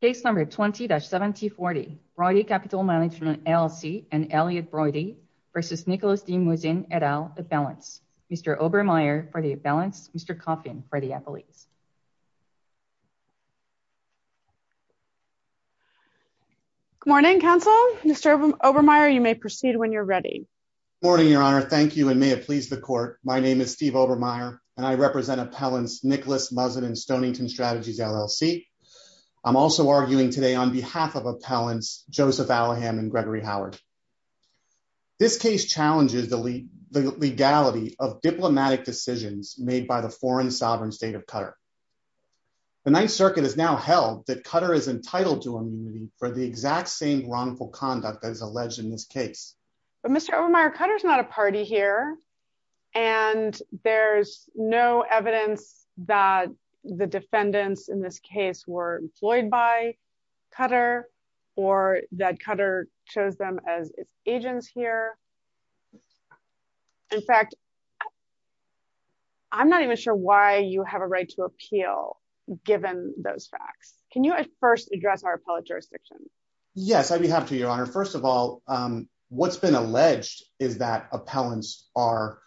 Case number 20-7040 Broidy Capital Management LLC and Elliot Broidy versus Nicolas de Muzin et al, a balance. Mr. Obermeyer for the balance, Mr. Coffin for the appellees. Good morning, counsel. Mr. Obermeyer, you may proceed when you're ready. Morning, your honor. Thank you and may it please the court. My name is Steve Obermeyer and I represent appellants Nicolas Muzin and Stonington Strategies LLC. I'm also arguing today on behalf of appellants Joseph Allahan and Gregory Howard. This case challenges the legality of diplomatic decisions made by the foreign sovereign state of Qatar. The Ninth Circuit has now held that Qatar is entitled to immunity for the exact same wrongful conduct that is alleged in this case. But Mr. Obermeyer, Qatar is not a party here and there's no evidence that the defendants in this case were employed by Qatar or that Qatar chose them as agents here. In fact, I'm not even sure why you have a right to appeal given those facts. Can you at first address our appellate jurisdiction? Yes, I do have to, your honor. First of all, what's been alleged is that appellants are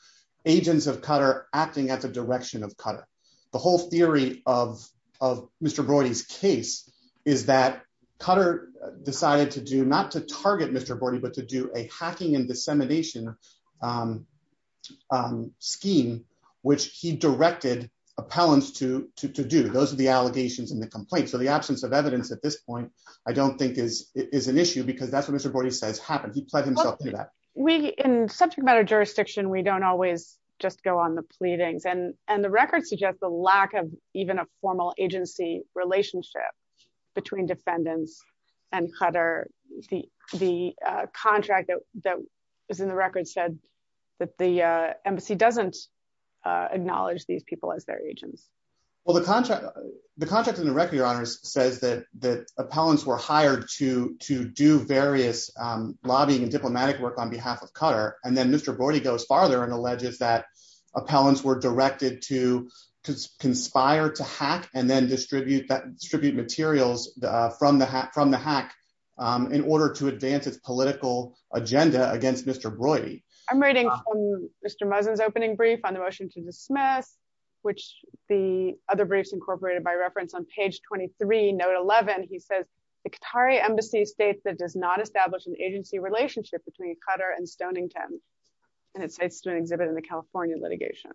agents of Qatar acting at the direction of Qatar. The whole theory of Mr. Brody's case is that Qatar decided to do not to target Mr. Brody, but to do a hacking and dissemination scheme, which he directed appellants to do. Those are the allegations in the complaint. The absence of evidence at this point, I don't think is an issue because that's what Mr. Brody says happened. He pled himself into that. In subject matter jurisdiction, we don't always just go on the pleadings. The record suggests the lack of even a formal agency relationship between defendants and Qatar. The contract that was in the record said that the embassy doesn't acknowledge these people as their agents. The contract in the record, your honor, says that the appellants were hired to do various lobbying and diplomatic work on behalf of Qatar. And then Mr. Brody goes farther and alleges that appellants were directed to conspire to hack and then distribute materials from the hack in order to advance its political agenda against Mr. Brody. I'm reading from Mr. Muzzin's opening brief on the motion to dismiss, which the other briefs incorporated by reference on page 23, note 11. He says, the Qatari embassy states that does not establish an agency relationship between Qatar and Stonington. And it states to an exhibit in the California litigation.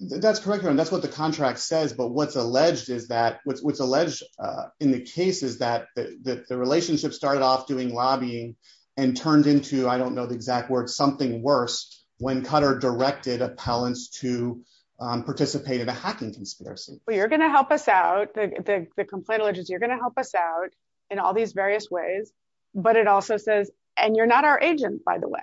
That's correct, your honor. That's what the contract says. But what's alleged in the case is that the relationship started off doing lobbying and turned into, I don't know the worst, when Qatar directed appellants to participate in a hacking conspiracy. Well, you're going to help us out. The complaint alleges you're going to help us out in all these various ways. But it also says, and you're not our agent, by the way.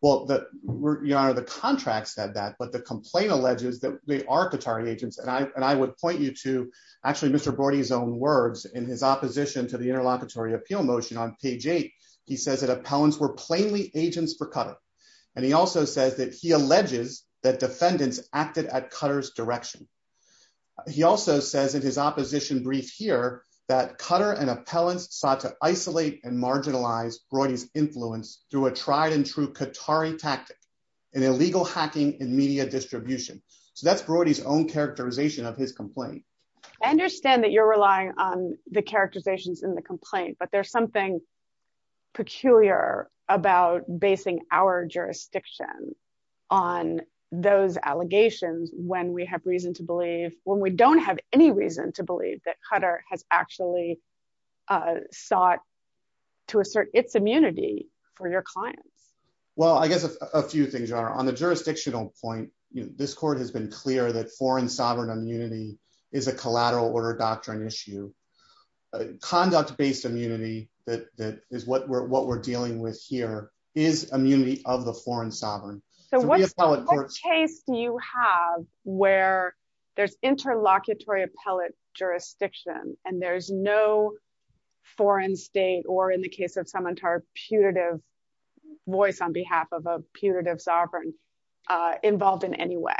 Well, your honor, the contract said that, but the complaint alleges that they are Qatari agents. And I would point you to actually Mr. Brody's own words in his opposition to the interlocutory appeal motion on page eight. He says that appellants were plainly agents for Qatar. And he also says that he alleges that defendants acted at Qatar's direction. He also says in his opposition brief here that Qatar and appellants sought to isolate and marginalize Brody's influence through a tried and true Qatari tactic in illegal hacking and media distribution. So that's Brody's own characterization of his complaint. I understand that you're relying on the characterizations in the complaint, but there's something peculiar about basing our jurisdiction on those allegations when we have reason to believe, when we don't have any reason to believe that Qatar has actually sought to assert its immunity for your clients. Well, I guess a few things, your honor. On the jurisdictional point, this court has been clear that foreign sovereign immunity is a collateral order doctrine issue. Conduct based immunity that is what we're dealing with here is immunity of the foreign sovereign. So what case do you have where there's interlocutory appellate jurisdiction, and there's no foreign state, or in the case of Samantar, putative voice on behalf of a putative sovereign involved in any way?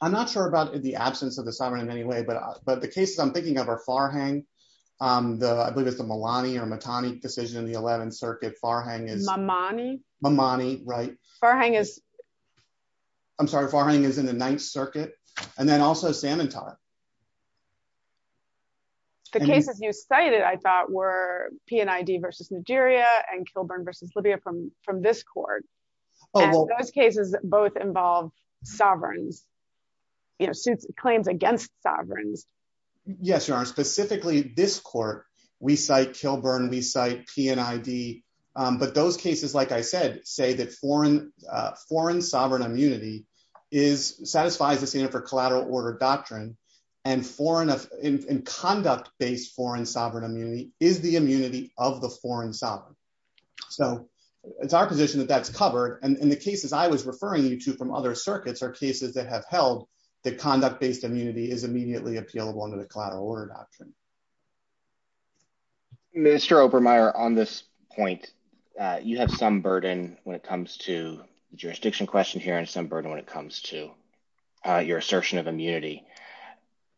I'm not sure about the absence of the sovereign in any way, but the cases I'm thinking of are Farhang, I believe it's the Malani or Matani decision in the 11th circuit, Farhang is... Mamani? Mamani, right. Farhang is... I'm sorry, Farhang is in the 9th circuit, and then also Samantar. The cases you cited, I thought, were PNID versus Nigeria and Kilburn versus Libya from this court. Those cases both involve sovereigns, claims against sovereigns. Yes, your honor, specifically this court, we cite Kilburn, we cite PNID, but those cases, like I said, say that foreign sovereign immunity satisfies the standard for collateral order doctrine, and conduct based foreign sovereign immunity is the immunity of the foreign sovereign. So it's our position that that's covered, and the cases I was referring you to from other circuits are cases that have held that conduct based immunity is immediately appealable under the collateral order doctrine. Minister Obermeyer, on this point, you have some burden when it comes to the jurisdiction question here, and some burden when it comes to your assertion of immunity.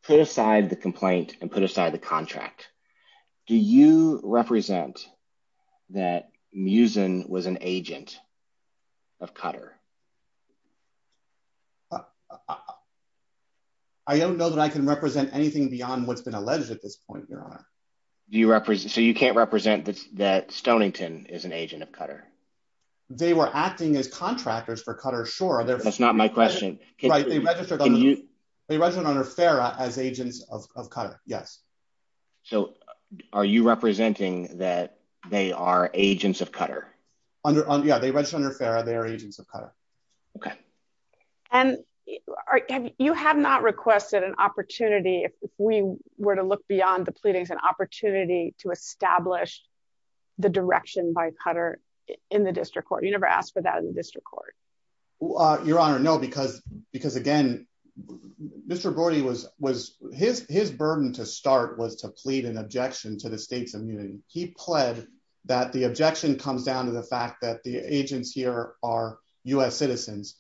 Put aside the complaint and put aside the contract. Do you represent that Muzin was an agent of Qatar? I don't know that I can represent anything beyond what's been alleged at this point, your honor. So you can't represent that Stonington is an agent of Qatar? They were acting as contractors for Qatar, sure. That's not my question. Right, they registered under FARA as agents of Qatar, yes. So are you representing that they are agents of Qatar? Yeah, they registered under FARA, they are agents of Qatar. And you have not requested an opportunity, if we were to look beyond the pleadings, an opportunity to establish the direction by Qatar in the district court. You never asked for that in the district court? Your honor, no, because again, Mr. Brody, his burden to start was to plead an objection to the state's immunity. He pled that the objection comes down to the fact that the agents here are US citizens.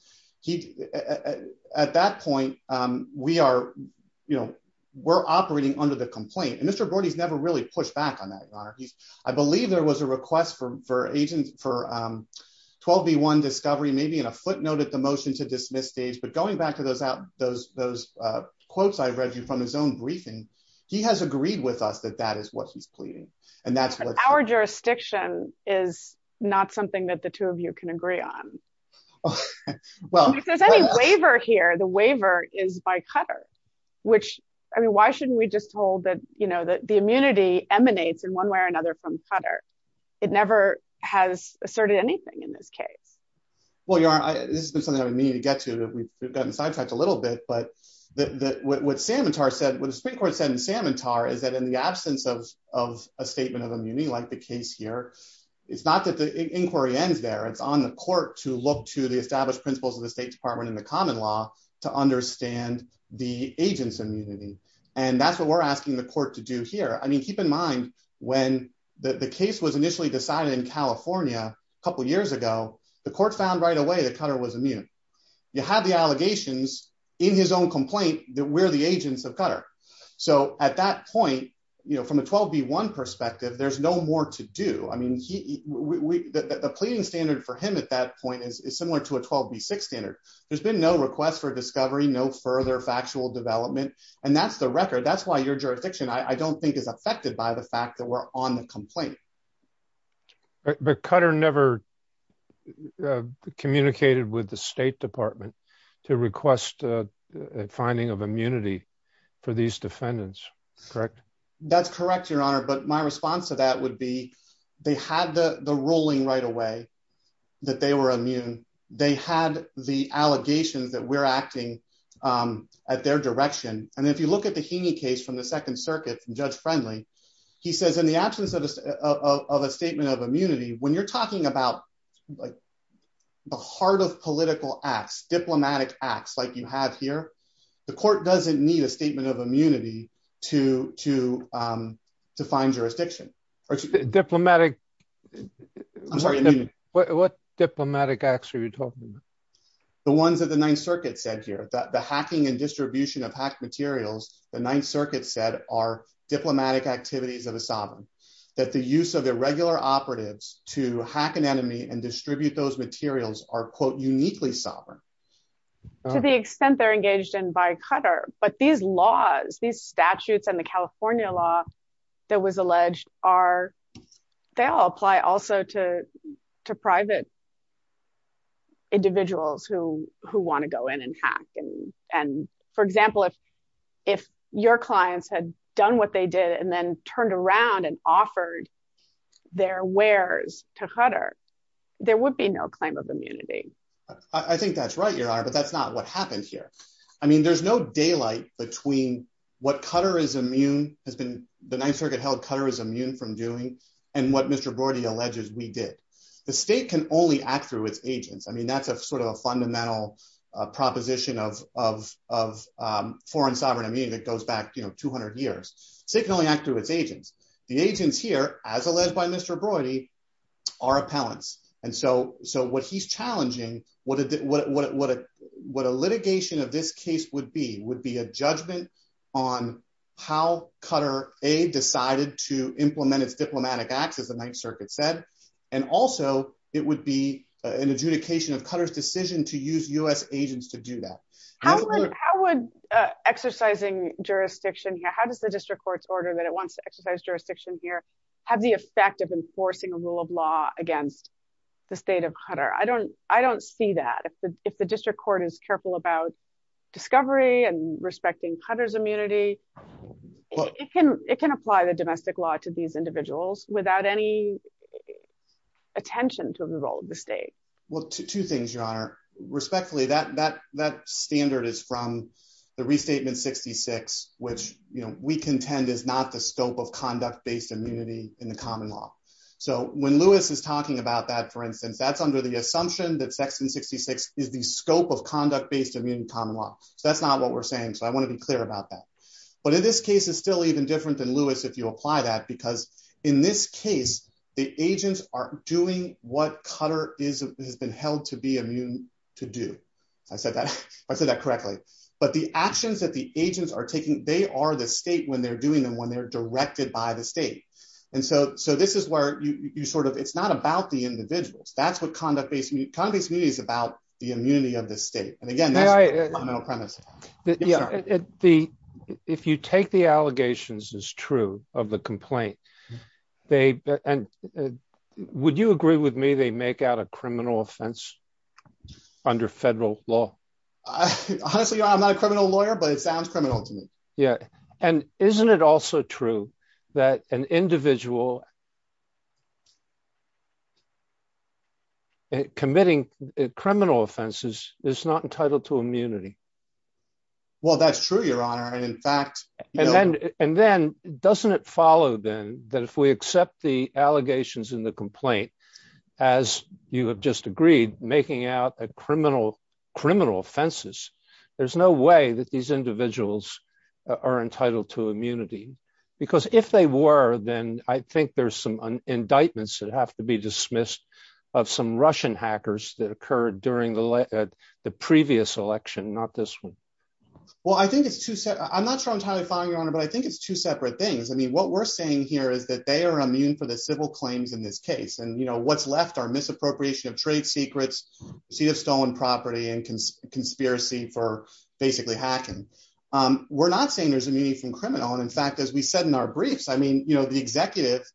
At that point, we're operating under the complaint. And Mr. Brody's never really pushed back on that, your honor. I believe there was a request for 12 v. 1 discovery, maybe in a footnote at the motion to dismiss stage. But going back to those quotes I read you from his own briefing, he has agreed with us that that is what he's pleading. And that's what- Our jurisdiction is not something that the two of you can agree on. If there's any waiver here, the waiver is by Qatar, which I mean, why shouldn't we just hold that the immunity emanates in one way or another from it never has asserted anything in this case? Well, your honor, this is something that we need to get to that we've gotten sidetracked a little bit. But what the Supreme Court said in Samantar is that in the absence of a statement of immunity like the case here, it's not that the inquiry ends there. It's on the court to look to the established principles of the State Department and the common law to understand the agent's immunity. And that's what we're asking the court to do here. I mean, keep in mind when the case was initially decided in California a couple of years ago, the court found right away that Qatar was immune. You have the allegations in his own complaint that we're the agents of Qatar. So at that point, from a 12 v. 1 perspective, there's no more to do. I mean, the pleading standard for him at that point is similar to a 12 v. 6 standard. There's been no request for discovery, no further factual development. And that's the record. That's why your jurisdiction, I don't think, is affected by the fact that we're on the complaint. But Qatar never communicated with the State Department to request a finding of immunity for these defendants, correct? That's correct, Your Honor. But my response to that would be they had the ruling right away that they were immune. They had the allegations that we're acting at their direction. And if you look at the Heaney case from the Second Circuit, from Judge Friendly, he says in the absence of a statement of immunity, when you're talking about the heart of political acts, diplomatic acts like you have here, the court doesn't need a statement of immunity to find jurisdiction. What diplomatic acts are you talking about? The ones that the Ninth Circuit said here, the hacking and distribution of hacked materials, the Ninth Circuit said are diplomatic activities of a sovereign. That the use of irregular operatives to hack an enemy and distribute those materials are, quote, uniquely sovereign. To the extent they're engaged in by Qatar. But these laws, these statutes and the California law that was alleged are, they all apply also to private individuals who want to go in and hack. And for example, if your clients had done what they did and then turned around and offered their wares to Qatar, there would be no claim of immunity. I think that's right, Your Honor, but that's not what happened here. I mean, there's no daylight between what the Ninth Circuit held Qatar is immune from doing and what Mr. Brody alleges we did. The state can only act through its agents. I mean, that's a sort of a fundamental proposition of foreign sovereign immunity that goes back 200 years. State can only act through its agents. The agents here, as alleged by Mr. Brody, are appellants. And so what he's challenging, what a litigation of this case would be, would be a judgment on how Qatar, A, decided to implement its diplomatic acts, as the Ninth Circuit said. And also, it would be an adjudication of Qatar's decision to use US agents to do that. How would exercising jurisdiction here, how does the district court's order that it wants exercise jurisdiction here, have the effect of enforcing a rule of law against the state of Qatar? I don't see that. If the district court is careful about discovery and respecting Qatar's immunity, it can apply the domestic law to these individuals without any attention to the role of the state. Well, two things, Your Honor. Respectfully, that standard is from the Restatement which we contend is not the scope of conduct-based immunity in the common law. So when Lewis is talking about that, for instance, that's under the assumption that section 66 is the scope of conduct-based immune common law. So that's not what we're saying. So I want to be clear about that. But in this case, it's still even different than Lewis if you apply that, because in this case, the agents are doing what Qatar has been held to be immune to do. I said that correctly. But the actions that the agents are taking, they are the state when they're doing them, when they're directed by the state. And so this is where it's not about the individuals. That's what conduct-based immunity is about, the immunity of the state. And again, that's a criminal premise. If you take the allegations as true of the complaint, would you agree with me they make out a criminal offense under federal law? Honestly, I'm not a criminal lawyer, but it sounds criminal to me. Yeah. And isn't it also true that an individual committing criminal offenses is not entitled to immunity? Well, that's true, Your Honor. And in fact- And then doesn't it follow then that if we accept the allegations in the complaint, as you have just agreed, making out a criminal offenses, there's no way that these individuals are entitled to immunity? Because if they were, then I think there's some indictments that have to be dismissed of some Russian hackers that occurred during the previous election, not this one. Well, I think it's two- I'm not sure I'm trying to find, Your Honor, but I think it's two separate things. I mean, what we're saying here is that they are immune for the civil claims in this case. And what's left are misappropriation of trade secrets, receipt of stolen property, and conspiracy for basically hacking. We're not saying there's immunity from criminal. And in fact, as we said in our briefs, I mean, the executive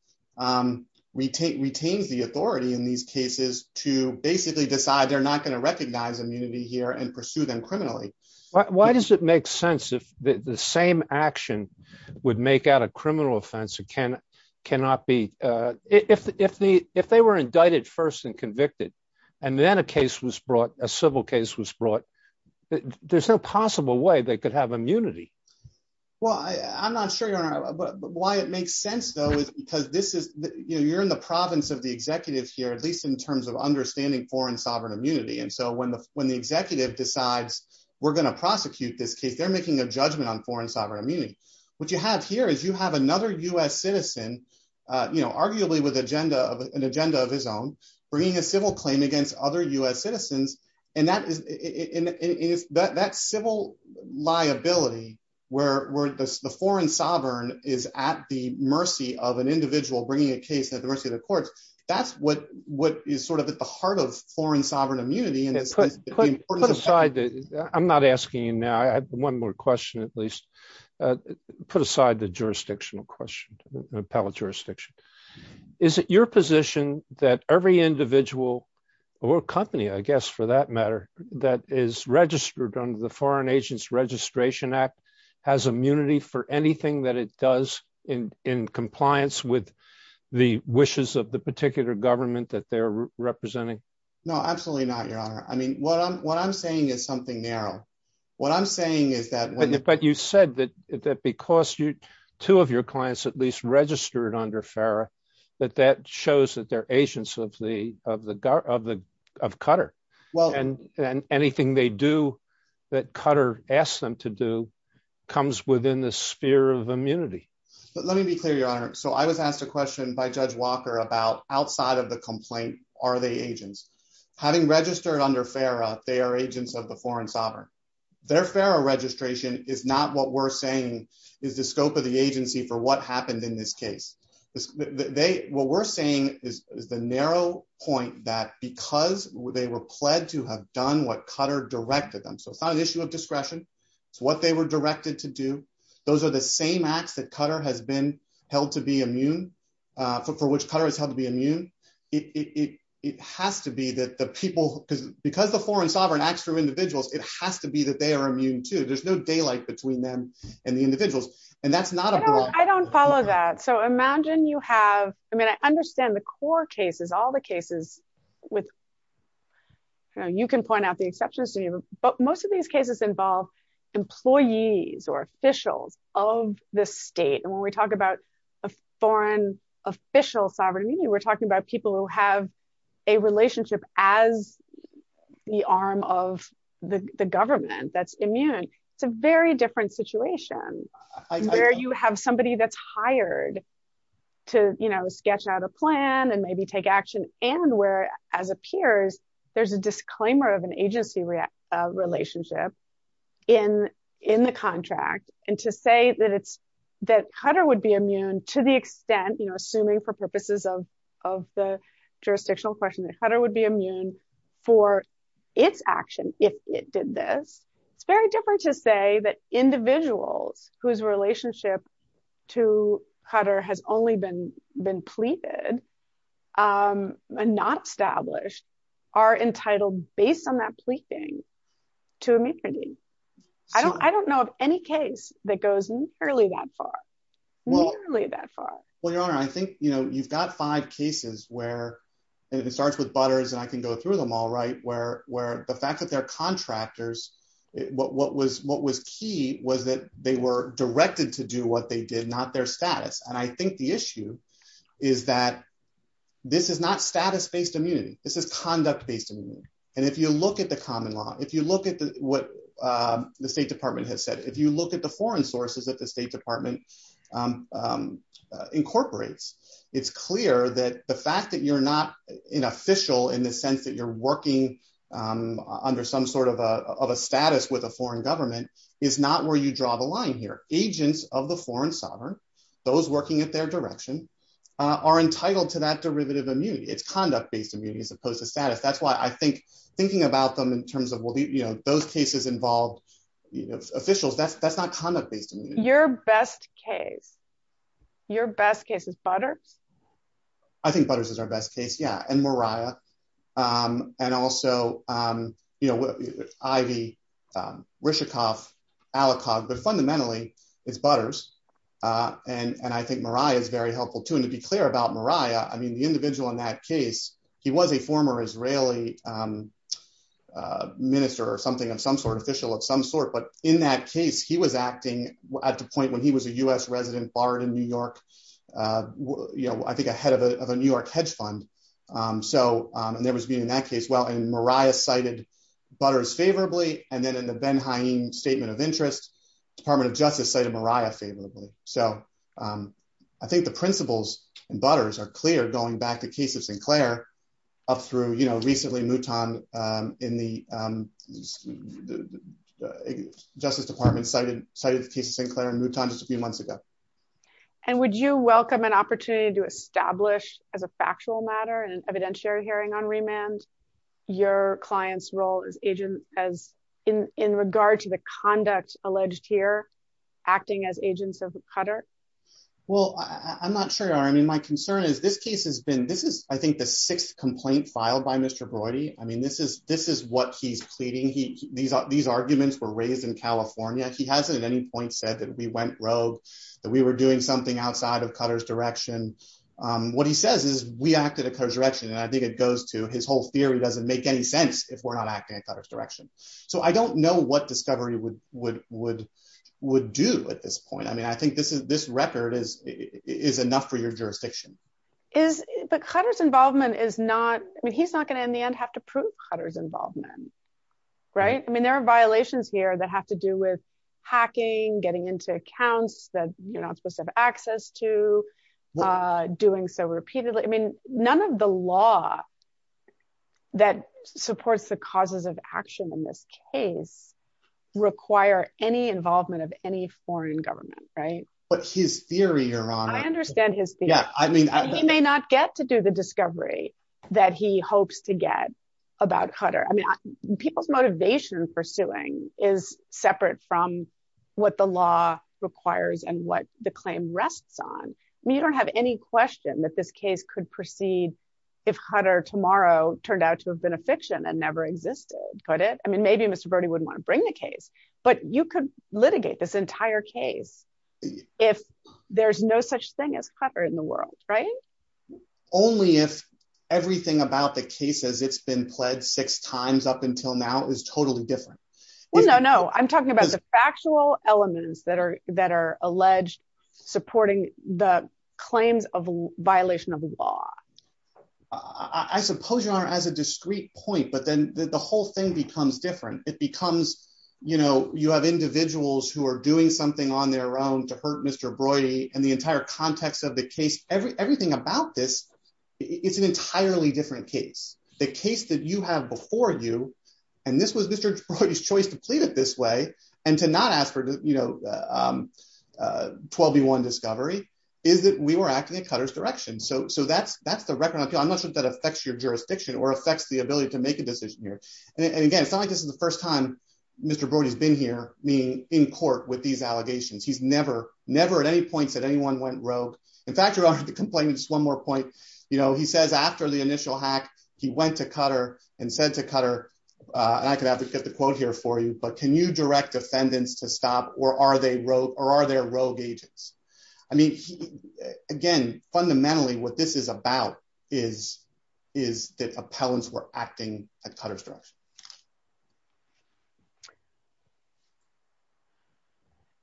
retains the authority in these cases to basically decide they're not going to recognize immunity here and pursue them criminally. Why does it make sense if the same action would make out a criminal offense? If they were indicted first and convicted, and then a case was brought, a civil case was brought, there's no possible way they could have immunity. Well, I'm not sure, Your Honor, why it makes sense, though, is because you're in the province of the executive here, at least in terms of understanding foreign sovereign immunity. And so when the executive decides we're going to prosecute this case, they're making a judgment on foreign sovereign immunity. What you have here is you have another U.S. citizen, you know, arguably with an agenda of his own, bringing a civil claim against other U.S. citizens, and that civil liability where the foreign sovereign is at the mercy of an individual bringing a case at the mercy of the courts, that's what is sort of at the heart of foreign sovereign immunity, at least put aside the jurisdictional question, appellate jurisdiction. Is it your position that every individual or company, I guess, for that matter, that is registered under the Foreign Agents Registration Act has immunity for anything that it does in compliance with the wishes of the particular government that they're representing? No, absolutely not, Your Honor. I mean, what I'm saying is something narrow. What I'm saying is that you said that because two of your clients at least registered under FARA, that that shows that they're agents of Qatar, and anything they do that Qatar asks them to do comes within the sphere of immunity. But let me be clear, Your Honor. So I was asked a question by Judge Walker about outside of the complaint, are they agents? Having registered under FARA, they are agents of the foreign sovereign. Their FARA registration is not what we're saying is the scope of the agency for what happened in this case. What we're saying is the narrow point that because they were pled to have done what Qatar directed them, so it's not an issue of discretion. It's what they were directed to do. Those are the same acts that Qatar has been held to be immune, for which Qatar has held to be immune. It has to be that the people, because the foreign sovereign acts through individuals, it has to be that they are immune too. There's no daylight between them and the individuals. And that's not a broad- I don't follow that. So imagine you have, I mean, I understand the core cases, all the cases with, you can point out the exceptions to me, but most of these cases involve employees or officials of the state. And when we talk about a foreign official sovereign, we're talking about people who have a relationship as the arm of the government that's immune. It's a very different situation where you have somebody that's hired to sketch out a plan and maybe take action. And where as appears, there's a disclaimer of an agency relationship in the contract. And to say that Qatar would be immune to the extent, assuming for purposes of the jurisdictional question that Qatar would be immune for its action, if it did this, it's very different to say that individuals whose relationship to Qatar has only been pleaded and not established are entitled based on that pleading to immunity. I don't know of any case that goes nearly that far. Well, your honor, I think you've got five cases where it starts with butters and I can go through them all right. Where the fact that they're contractors, what was key was that they were directed to do what they did, not their status. And I think the issue is that this is not status based immunity. This is conduct based immunity. And if you look at the common law, if you look at what the state department has said, if you look at the foreign sources that the state department incorporates, it's clear that the fact that you're not an official in the sense that you're working under some sort of a status with a foreign government is not where you draw the line here. Agents of the foreign sovereign, those working at their direction are entitled to that derivative immunity. It's conduct based immunity as opposed to status. That's why I think thinking about them in terms of those cases involved officials, that's not conduct based. Your best case, your best case is butters? I think butters is our best case. Yeah. And Mariah and also Ivy, Rishikoff, Alecog. But fundamentally, it's butters. And I think Mariah is very helpful too. And to be clear about Mariah, I mean, the individual in that case, he was a former Israeli minister or something of some sort, official of some sort. But in that case, he was acting at the point when he was a U.S. resident barred in New York, I think a head of a New York hedge fund. And there was being in that case, well, and Mariah cited butters favorably. And then in the Ben-Haim Statement of Interest, Department of Justice cited Mariah favorably. So I think the principles and butters are clear going back to the case of Sinclair up through recently Mouton in the Justice Department cited the case of Sinclair and Mouton just a few months ago. And would you welcome an opportunity to establish as a factual matter in an evidentiary hearing on remand your client's role in regard to the conduct alleged here acting as agents of Qatar? Well, I'm not sure. I mean, my concern is this case has been this is, I think, the sixth complaint filed by Mr. Brody. I mean, this is this is what he's pleading. These are these arguments were raised in California. He hasn't at any point said that we went rogue, that we were doing something outside of Qatar's direction. What he says is we acted in his direction. And I think it goes to his whole theory doesn't make any sense if we're not acting in Qatar's direction. So I don't know what discovery would would would would do at this point. I mean, I think this is this record is enough for your jurisdiction. Is the cutters involvement is not I mean, he's not going to in the end have to prove cutters involvement. Right. I mean, there are violations here that have to do with hacking, getting into accounts that you're not supposed to have access to doing so repeatedly. I mean, none of the law that supports the causes of action in this case require any involvement of any foreign government. Right. But his theory, Your Honor, I understand his. Yeah. I mean, he may not get to do the discovery that he hopes to get about Qatar. I mean, people's motivation for suing is separate from what the law requires and what the claim rests on. You don't have any question that this case could proceed if Qatar tomorrow turned out to have been a fiction that never existed, could it? I mean, maybe Mr. Brody wouldn't want to bring the case, but you could litigate this entire case if there's no such thing as Qatar in the world. Right. Only if everything about the case as it's been pled six times up until now is totally different. No, no. I'm talking about the factual elements that are that are alleged, supporting the claims of violation of the law. I suppose, Your Honor, as a discrete point, but then the whole thing becomes different. It becomes, you know, you have individuals who are doing something on their own to hurt Mr. Brody and the entire context of the case. Everything about this, it's an entirely different case. The case that you have before you, and this was Mr. Brody's to plead it this way and to not ask for, you know, 12B1 discovery is that we were acting in Qatar's direction. So that's the record. I'm not sure if that affects your jurisdiction or affects the ability to make a decision here. And again, it's not like this is the first time Mr. Brody's been here, meaning in court with these allegations. He's never, never at any point said anyone went rogue. In fact, Your Honor, the complaint is one more point. You know, he says after the initial hack, he went to Qatar and said to Qatar, and I could advocate the quote here for you, but can you direct defendants to stop or are they rogue or are there rogue agents? I mean, again, fundamentally what this is about is, is that appellants were acting at Qatar's direction.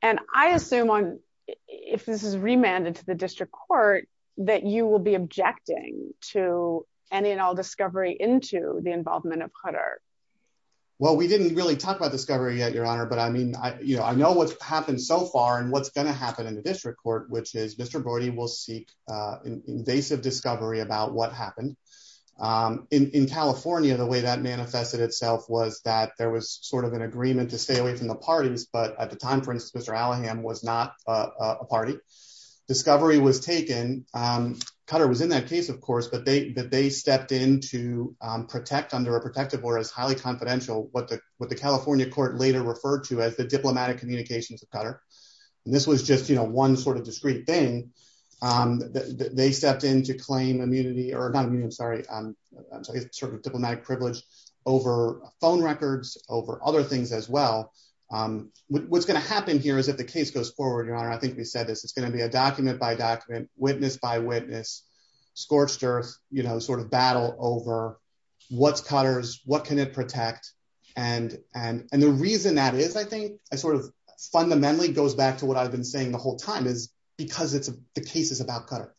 And I assume on, if this is remanded to the district court, that you will be objecting to any and all discovery into the involvement of Qatar. Well, we didn't really talk about discovery yet, Your Honor, but I mean, I, you know, I know what's happened so far and what's going to happen in the district court, which is Mr. Brody will seek invasive discovery about what happened in California. The way that manifested itself was that there was sort of an agreement to stay away from the parties, but at the time, for instance, Mr. Allaham was not a party. Discovery was taken. Qatar was in that case, of course, but they stepped in to protect under a protective order as highly confidential, what the California court later referred to as the diplomatic communications of Qatar. And this was just, you know, one sort of discrete thing. They stepped in to claim immunity or not immunity, I'm sorry, diplomatic privilege over phone records, over other things as well. What's going to happen here is if the case goes forward, Your Honor, I think we said this, it's going to be a document by document, witness by witness, scorched earth, you know, sort of battle over what's Qatar's, what can it protect? And, and, and the reason that is, I think, I sort of fundamentally goes back to what I've been saying the whole time is because it's the case is about Qatar.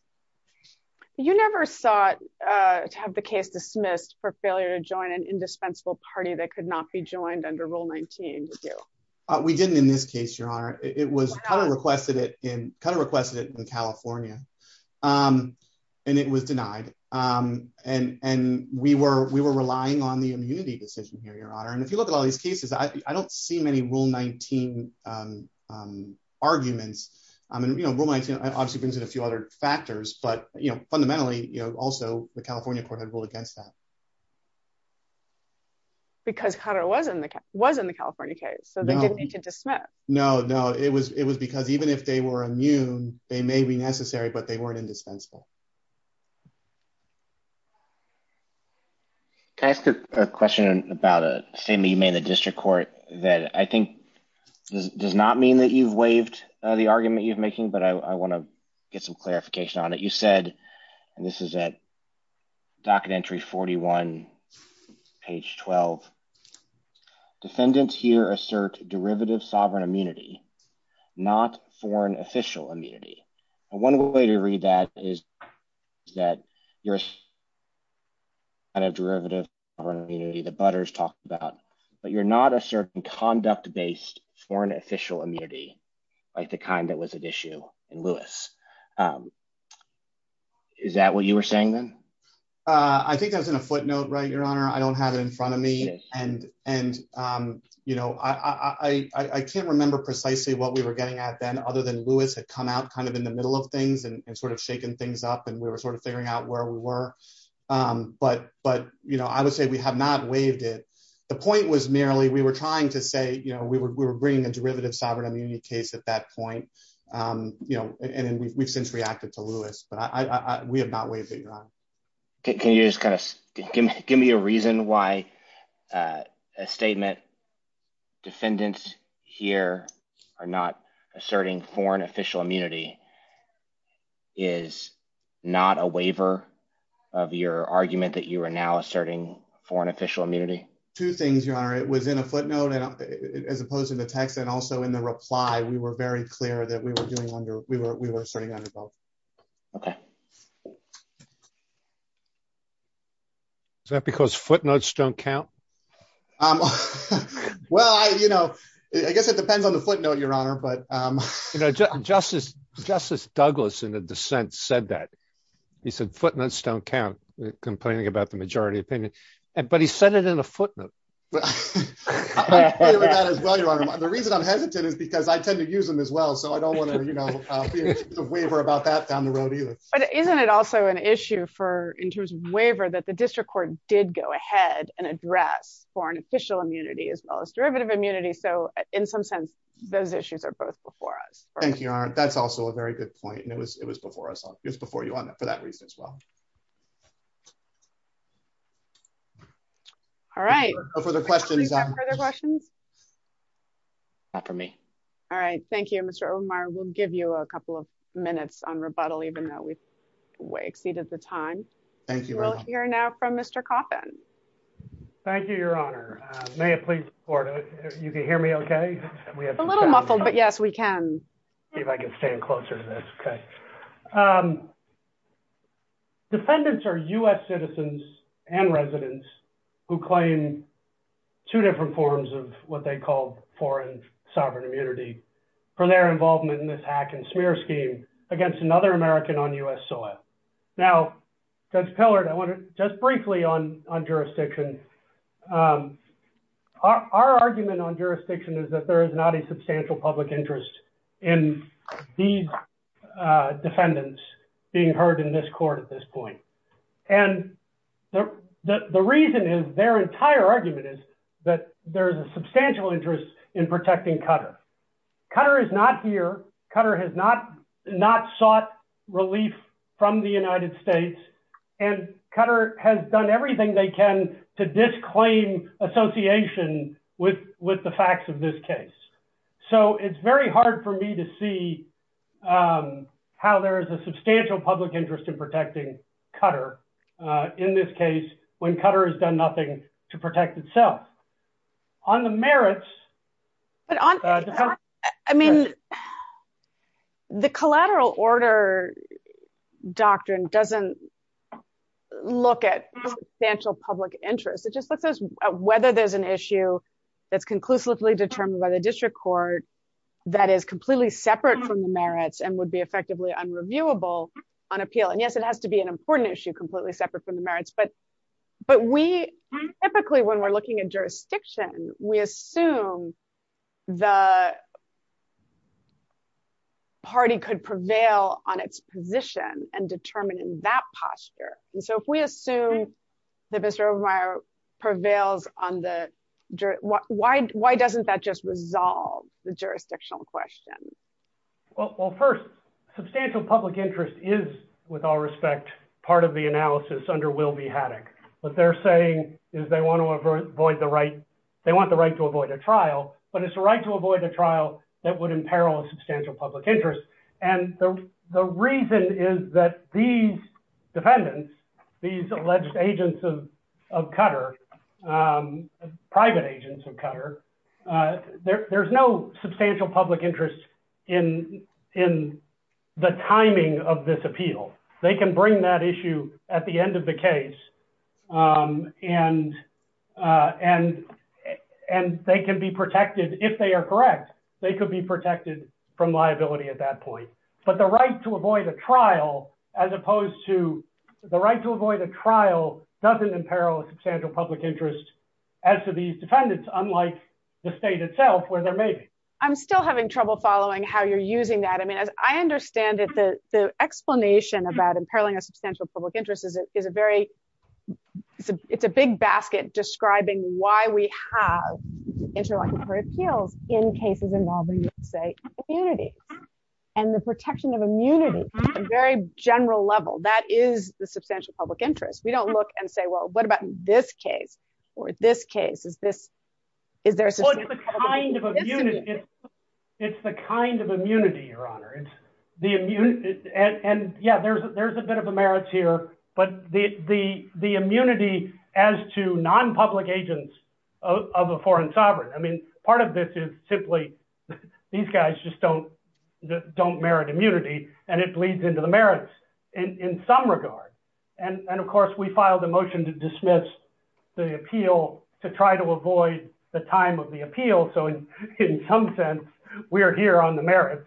You never sought to have the case dismissed for failure to join an indispensable party that could not be joined under Rule 19. We didn't in this case, Your Honor, it was kind of requested it in kind of requested it in California. And it was denied. And, and we were, we were relying on the immunity decision here, Your Honor. And if you look at all these cases, I don't see many Rule 19. arguments. I mean, you know, Roman obviously brings in a few other factors. But you know, fundamentally, you know, also the California court had ruled against that. Because Qatar was in the was in the California case. So they didn't need to dismiss. No, no, it was it was because even if they were immune, they may be necessary, but they weren't indispensable. Can I ask a question about a statement you made in the district court that I think does not mean that you've waived the argument you've making, but I want to get some clarification on it. You said, and this is a docket entry 41 page 12. Defendants here assert derivative sovereign immunity, not foreign official immunity. One way to read that is that you're kind of derivative immunity, the butters talked about, but you're not a certain conduct based foreign official immunity, like the kind that was an issue in Lewis. Is that what you were saying, then? I think that was in a footnote, right, Your Honor, I don't have it in front of me. And, and, you know, I can't remember precisely what we were getting at, then other than Lewis had come out kind of in the middle of things and sort of shaken things up. And we were sort of figuring out where we were. But But, you know, I would say we have not waived it. The point was merely we were trying to say, you know, we were bringing a derivative sovereign immunity case at that point. You know, and we've since reacted to Lewis, but I we have not waived it. Can you just kind of give me a reason why a statement defendants here are not asserting foreign official immunity is not a waiver of your argument that you are now asserting foreign official immunity? Two things, Your Honor, it was in a footnote. And as opposed to the text, and also in the reply, we were very clear that we were doing under we were we were starting under both. Okay. Is that because footnotes don't count? Well, I you know, I guess it depends on the footnote, Your Honor, but you know, Justice, Justice Douglas in the dissent said that he said footnotes don't count complaining about the majority opinion, but he said it in a footnote. The reason I'm hesitant is because I tend to use them as well. So I don't want to, you know, waiver about that down the road, either. But isn't it also an issue for in terms of waiver that the district court did go ahead and address foreign official immunity as well as derivative immunity. So in some sense, those issues are both before us. Thank you. That's also a very good point. And it was it was before us. It was before you on for that reason as well. All right. No further questions. Not for me. All right. Thank you, Mr. Omar. We'll give you a couple of minutes on rebuttal, even though we've way exceeded the time. Thank you. We'll hear now from Mr. Coffin. Thank you, Your Honor. May I please order? You can hear me? Okay. We have a little muffled. But yes, we can. If I can stand closer to this. Okay. Defendants are U.S. citizens and residents who claim two different forms of what they call foreign sovereign immunity for their involvement in this hack and smear scheme against another American on U.S. soil. Now, Judge Pillard, I want to just briefly on jurisdiction. Our argument on jurisdiction is that there is not a substantial public interest in these defendants being heard in this court at this point. And the reason is their entire argument is that there is a substantial interest in protecting Qatar. Qatar is not here. Qatar has not not sought relief from the United States. And Qatar has done everything they can to disclaim association with with the facts of this case. So it's very hard for me to see how there is a substantial public interest in protecting Qatar in this case, when Qatar has done nothing to protect itself on the merits. But I mean, the collateral order doctrine doesn't look at substantial public interest. It just looks at whether there's an issue that's conclusively determined by the district court that is completely separate from the merits and would be effectively unreviewable on appeal. And yes, it has to be an important issue completely separate from the merits. But but we typically, when we're looking at jurisdiction, we assume the party could prevail on its position and determine in that posture. And so if we assume that Mr. Obermeyer prevails on the jury, what, why, why doesn't that just resolve the jurisdictional question? Well, first, substantial public interest is, with all respect, part of the void, the right, they want the right to avoid a trial, but it's the right to avoid a trial that would imperil substantial public interest. And the reason is that these defendants, these alleged agents of Qatar, private agents of Qatar, there's no substantial public interest in in the timing of this appeal, they can bring that issue at the end of the case. And, and, and they can be protected, if they are correct, they could be protected from liability at that point. But the right to avoid a trial, as opposed to the right to avoid a trial doesn't imperil substantial public interest, as to these defendants, unlike the state itself where they're made. I'm still having trouble following how you're using that. I mean, I understand that the explanation about imperiling a substantial public interest is a very, it's a big basket describing why we have interlocutory appeals in cases involving, say, immunity, and the protection of immunity, a very general level, that is the substantial public interest. We don't look and say, well, what about this case? Or this case? Is this, is there? Well, it's the kind of immunity, it's the kind of immunity, Your Honor, it's the immunity. And yeah, there's, there's a bit of a merit here. But the, the, the immunity as to non-public agents of a foreign sovereign, I mean, part of this is simply, these guys just don't, don't merit immunity. And it bleeds into the merits, in some regard. And of course, we try to avoid the time of the appeal. So in some sense, we are here on the merits.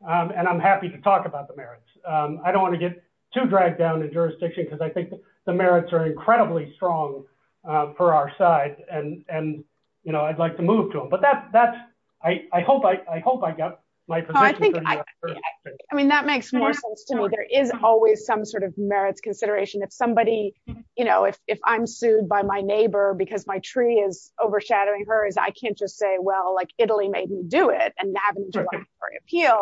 And I'm happy to talk about the merits. I don't want to get too dragged down in jurisdiction, because I think the merits are incredibly strong for our side. And, and, you know, I'd like to move to them. But that's, that's, I hope, I hope I got my position. I mean, that makes more sense to me. There is always some sort of merits consideration. If somebody, you know, if I'm sued by my neighbor, because my tree is overshadowing hers, I can't just say, well, like, Italy made me do it, and now I'm going to appeal.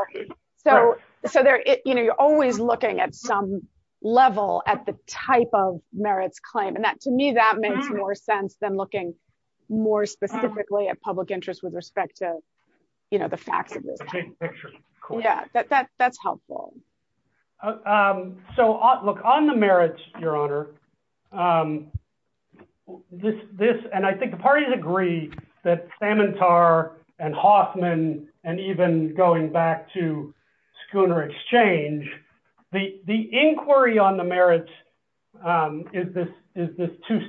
So, so there, you know, you're always looking at some level at the type of merits claim. And that, to me, that makes more sense than looking more specifically at public interest with respect to, you know, the facts. Yeah, that's helpful. So, look, on the merits, Your Honor, this, this, and I think the parties agree that Samantar and Hoffman, and even going back to Schooner Exchange, the inquiry on the merits is this, is this two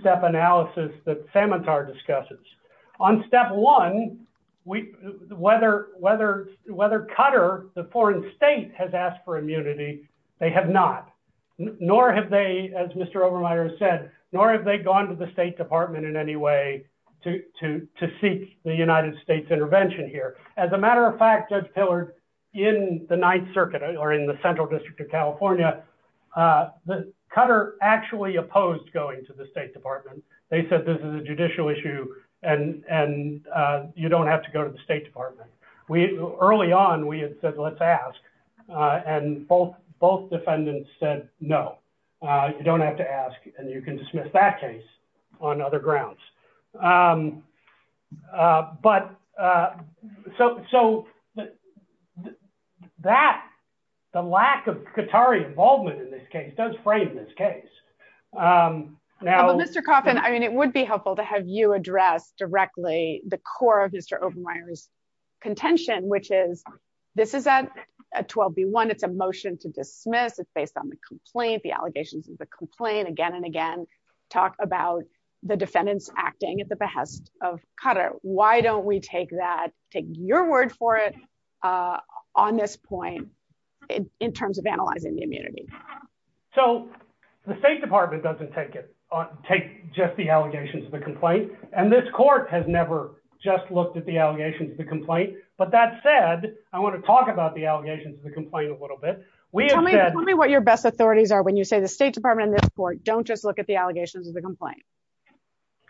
whether Qatar, the foreign state has asked for immunity, they have not, nor have they, as Mr. Obermeier said, nor have they gone to the State Department in any way to seek the United States intervention here. As a matter of fact, Judge Pillard, in the Ninth Circuit, or in the Central District of California, the Qatar actually opposed going to the State Department. They said this is judicial issue. And, and you don't have to go to the State Department. We early on, we had said, let's ask. And both both defendants said, no, you don't have to ask. And you can dismiss that case on other grounds. But so, so that the lack of Qatari involvement in this case does frame this case. Now, Mr. Coffin, I mean, it would be helpful to have you address directly the core of Mr. Obermeier's contention, which is, this is a 12b1, it's a motion to dismiss, it's based on the complaint, the allegations of the complaint again, and again, talk about the defendants acting at the behest of Qatar. Why don't we take that, take your word for it, on this point, in terms of analyzing the immunity? So the State Department doesn't take it on, take just the allegations of the complaint. And this court has never just looked at the allegations of the complaint. But that said, I want to talk about the allegations of the complaint a little bit. Tell me what your best authorities are when you say the State Department and this court don't just look at the allegations of the complaint.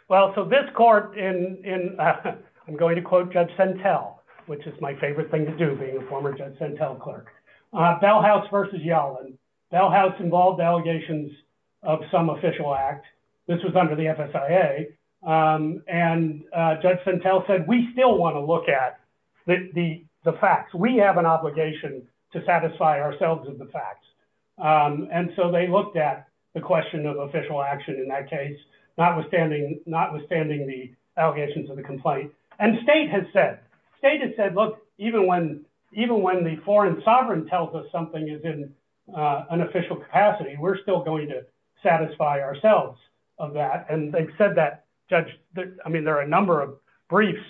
Well, so this court in, I'm going to quote Judge Sentel, which is my favorite thing to do being a former Judge Sentel clerk. Bell House versus Yellen. Bell House involved allegations of some official act. This was under the FSIA. And Judge Sentel said, we still want to look at the facts. We have an obligation to satisfy ourselves with the facts. And so they looked at the question of official action in that case, notwithstanding the allegations of the complaint. And the state has said, look, even when the foreign sovereign tells us something is in an official capacity, we're still going to satisfy ourselves of that. And they've said that, Judge, I mean, there are a number of briefs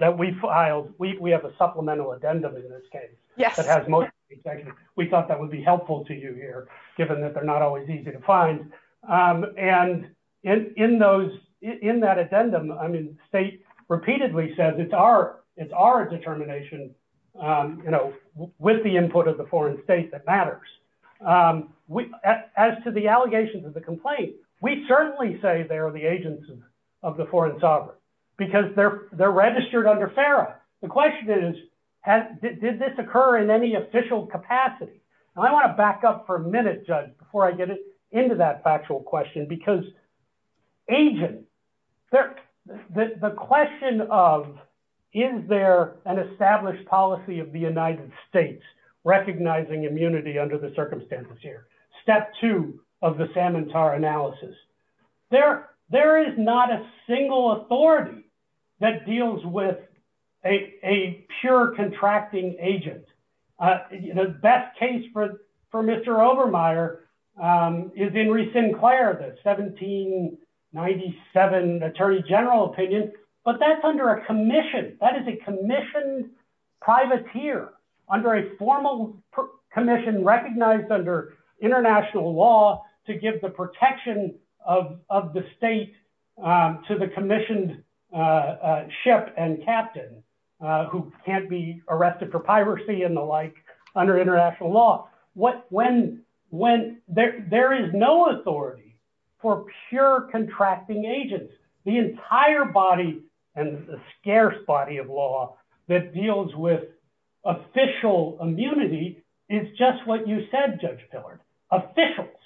that we filed. We have a supplemental addendum in this case. Yes. We thought that would be helpful to you here, given that they're not always easy to find. And in those, in that addendum, I mean, state repeatedly says it's our, it's our determination, you know, with the input of the foreign state that matters. As to the allegations of the complaint, we certainly say they are the agents of the foreign sovereign, because they're registered under FARA. The question is, did this occur in any official capacity? And I want to back up for a factual question, because agent, the question of, is there an established policy of the United States recognizing immunity under the circumstances here? Step two of the Salmon Tar analysis. There is not a single authority that deals with a pure contracting agent. The best case for Obermeier is Henry Sinclair, the 1797 Attorney General opinion, but that's under a commission that is a commissioned privateer under a formal commission recognized under international law to give the protection of the state to the commissioned ship and captain who can't be when there is no authority for pure contracting agents. The entire body and scarce body of law that deals with official immunity is just what you said, Judge Pillard, officials.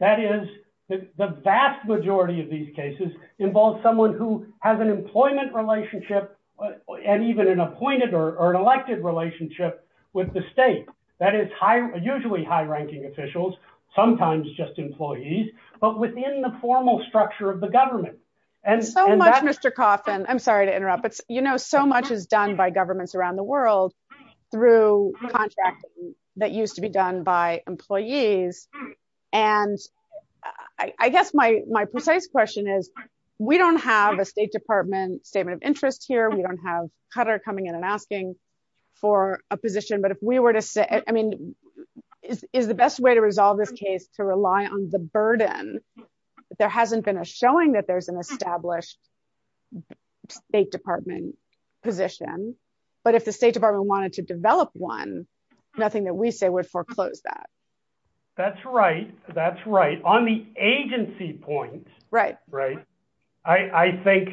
That is, the vast majority of these cases involve someone who has an employment relationship and even an sometimes just employees, but within the formal structure of the government. And so much, Mr. Coffin, I'm sorry to interrupt, but you know, so much is done by governments around the world through contract that used to be done by employees. And I guess my precise question is, we don't have a State Department statement of interest here. We don't have coming in and asking for a position, but if we were to say, I mean, is the best way to resolve this case to rely on the burden? There hasn't been a showing that there's an established State Department position, but if the State Department wanted to develop one, nothing that we say would foreclose that. That's right. That's right. On the agency point. Right. Right. I think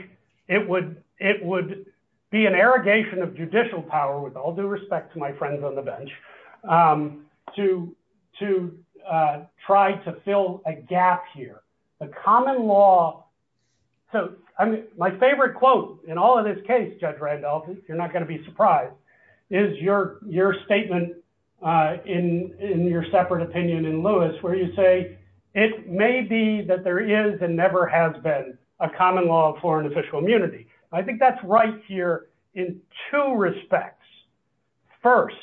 it would be an irrigation of judicial power with all due respect to my friends on the bench to try to fill a gap here, a common law. So my favorite quote in all of this case, Judge Randolph, you're not going to be surprised, is your statement in your separate opinion in Lewis, where you say it may be that there is and never has been a common law for an official immunity. I think that's right here in two respects. First,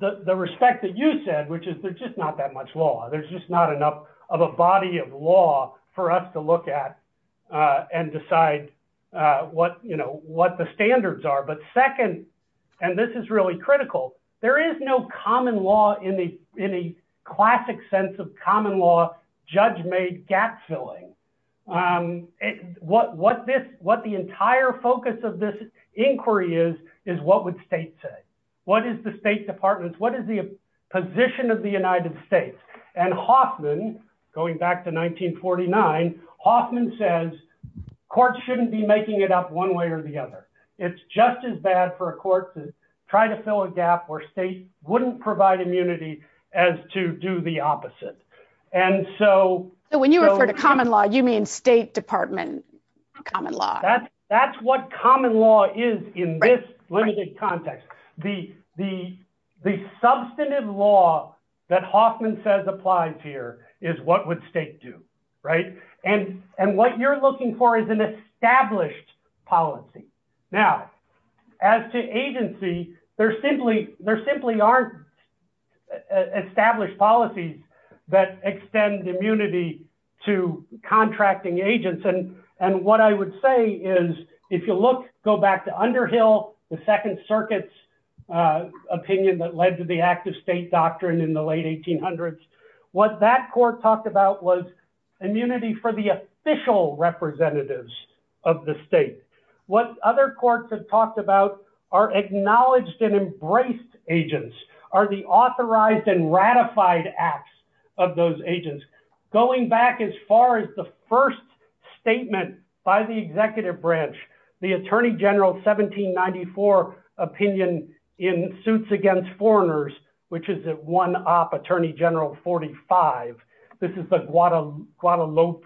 the respect that you said, which is there's just not that much law. There's just not enough of a body of law for us to look at and decide what, you know, what the standards are. But second, and this is really critical, there is no common law in the classic sense of common law, judge made gap filling. What the entire focus of this inquiry is, is what would states say? What is the State Department? What is the position of the United States? And Hoffman, going back to 1949, Hoffman says, courts shouldn't be making it up one way or the other. It's just as bad for a court to try to fill a gap where states wouldn't provide immunity as to do the opposite. And so- So when you refer to common law, you mean State Department common law. That's what common law is in this limited context. The substantive law that Hoffman says applies here is what would state do, right? And what you're looking for is an established policy. Now, as to agency, there simply aren't established policies that extend immunity to contracting agents. And what I would say is, if you look, go back to Underhill, the Second Circuit's opinion that led to the act of state doctrine in the late 1800s, what that court talked about was immunity for the official representatives of the state. What other courts have talked about are acknowledged and embraced agents, are the authorized and ratified acts of those agents. Going back as far as the first statement by the executive branch, the Attorney General 1794 opinion in Suits Against Foreigners, which is one op Attorney General 45. This is the Guadalupe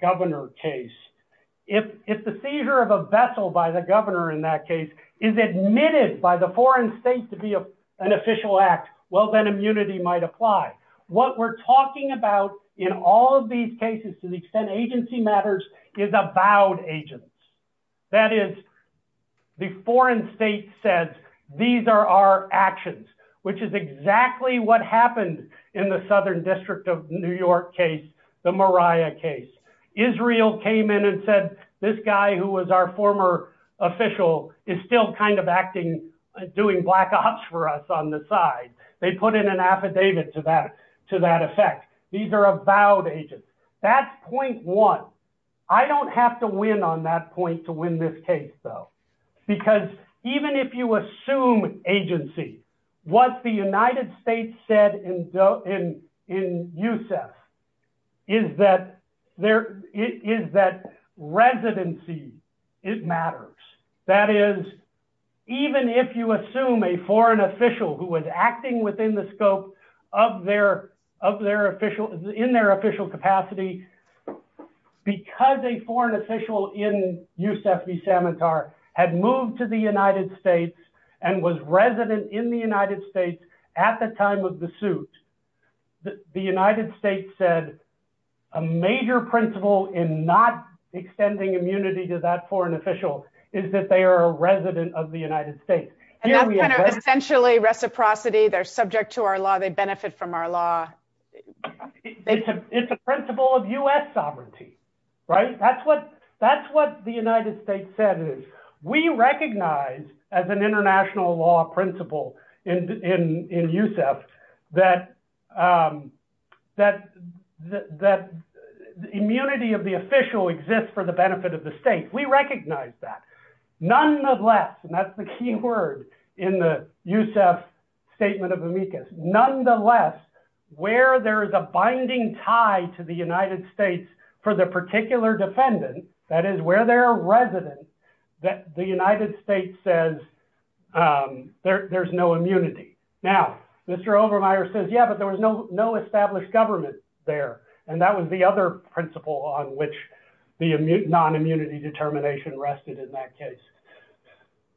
governor case. If the seizure of a vessel by the governor in that case is admitted by the foreign state to be an official act, well, then immunity might apply. What we're talking about in all of these cases, to the extent agency matters, is avowed agents. That is, the foreign state says, these are our actions, which is exactly what happened in the Southern District of New York case, the Moriah case. Israel came in and said, this guy who was our former official is still kind of acting, doing black ops for us on the side. They put in an affidavit to that effect. These are avowed agents. That's point one. I don't have to win on that point to win this case, though. Because even if you assume agency, what the United States said in USEF is that residency matters. That is, even if you assume a foreign official who was acting within the scope of their official, in their official capacity, because a foreign official in USEF v. Samantar had moved to the United States and was resident in the United States at the time of the suit, the United States said a major principle in not extending immunity to that foreign official is that they are a resident of the United States. And that's kind of essentially reciprocity. They're subject to our law. They benefit from our law. It's a principle of US sovereignty, right? That's what the United States said is, we recognize as an international law principle in USEF that the immunity of the official exists for the benefit of the state. We recognize that. Nonetheless, and that's the key word in the USEF statement of amicus. Nonetheless, where there is a binding tie to the United States for the particular defendant, that is where they're a resident, the United States says there's no immunity. Now, Mr. Obermeier says, yeah, but there was no established government there. And that was the other principle on which the non-immunity determination rested in that case.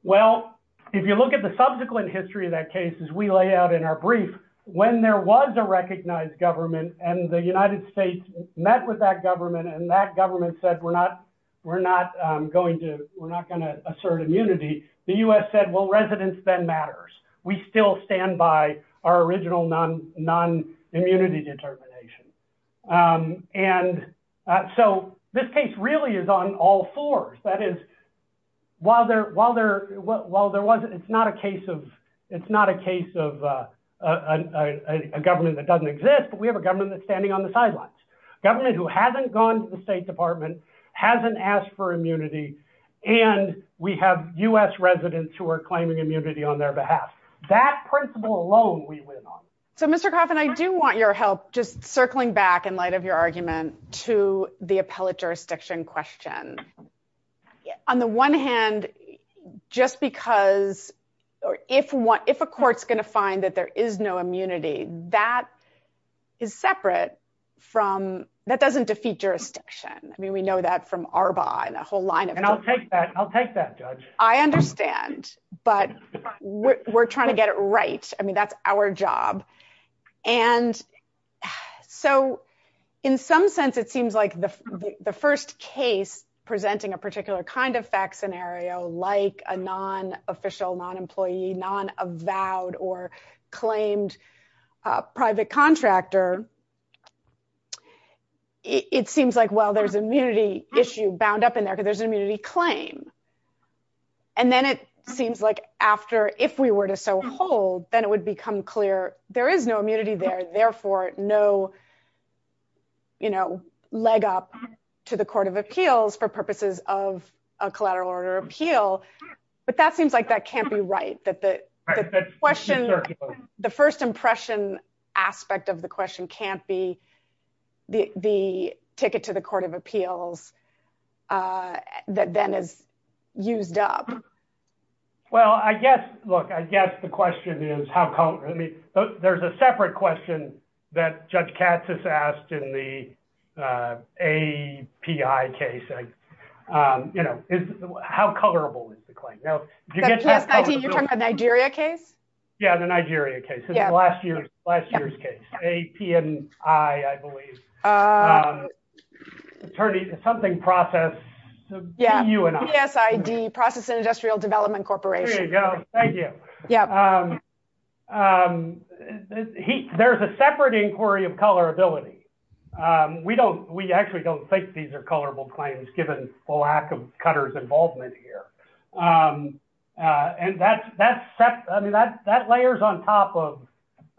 Well, if you look at the subsequent history of that case, as we lay out in our brief, when there was a recognized government and the United States met with that government, and that government said, we're not going to assert immunity, the US said, well, matters. We still stand by our original non-immunity determination. And so this case really is on all fours. That is, while there wasn't, it's not a case of a government that doesn't exist, but we have a government that's standing on the sidelines. A government who hasn't gone to the state department, hasn't asked for immunity. And we have US residents who are claiming immunity on their behalf. That principle alone, we win on. So Mr. Coffin, I do want your help just circling back in light of your argument to the appellate jurisdiction question. On the one hand, just because, or if a court's going to find that there is no immunity, that is separate from, that doesn't defeat jurisdiction. I mean, we know that from ARBA and a whole line of- And I'll take that. I'll take that judge. I understand, but we're trying to get it right. I mean, that's our job. And so in some sense, it seems like the first case presenting a particular kind of fact scenario, like a non-official, non-employee, non-avowed or claimed private contractor, it seems like, well, there's an immunity issue bound up in there because there's an immunity claim. And then it seems like after, if we were to so hold, then it would become clear, there is no immunity there, therefore no leg up to the court of appeals for purposes of a collateral order appeal. But that seems like that can't be right, that the question, the first impression aspect of the question can't be the ticket to the court of appeals, uh, that then is used up. Well, I guess, look, I guess the question is, how come, I mean, there's a separate question that Judge Katz has asked in the, uh, API case, you know, is how colorable is the claim? Now, you get to- The PSIT, you're talking about Nigeria case? Yeah, the Nigeria case. Yeah. Last year's, last year's case. A-P-N-I, I believe. Um, attorney, something process, B-U-N-I. Yeah, B-S-I-D, Process Industrial Development Corporation. There you go. Thank you. Yeah. Um, he, there's a separate inquiry of colorability. Um, we don't, we actually don't think these are colorable claims given the lack of Cutter's involvement here. Um, uh, and that's, that's, I mean, that, that layers on top of,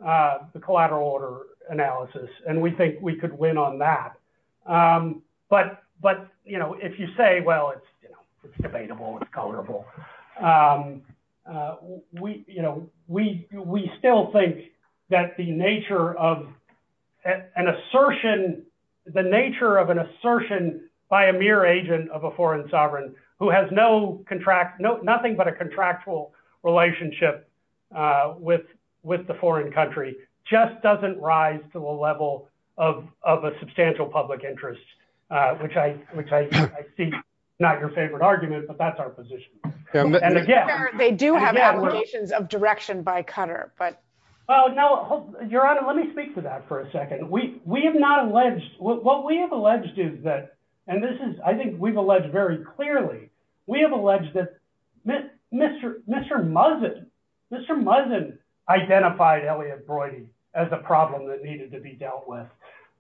uh, the collateral order analysis. And we think we could win on that. Um, but, but, you know, if you say, well, it's, you know, it's debatable, it's colorable. Um, uh, we, you know, we, we still think that the nature of an assertion, the nature of an assertion by a mere agent of a foreign sovereign who has no contract, no, nothing but a contractual relationship, uh, with, with the foreign country just doesn't rise to a level of, of a substantial public interest, uh, which I, which I, I see not your favorite argument, but that's our position. And again, They do have obligations of direction by Cutter, but. Oh, no, Your Honor, let me speak to that for a second. We, we have not alleged what we have alleged is that, and this is, I think we've alleged very clearly, we have alleged that Mr. Mr. Muzzin, Mr. Muzzin identified Elliot Broidy as a problem that needed to be dealt with.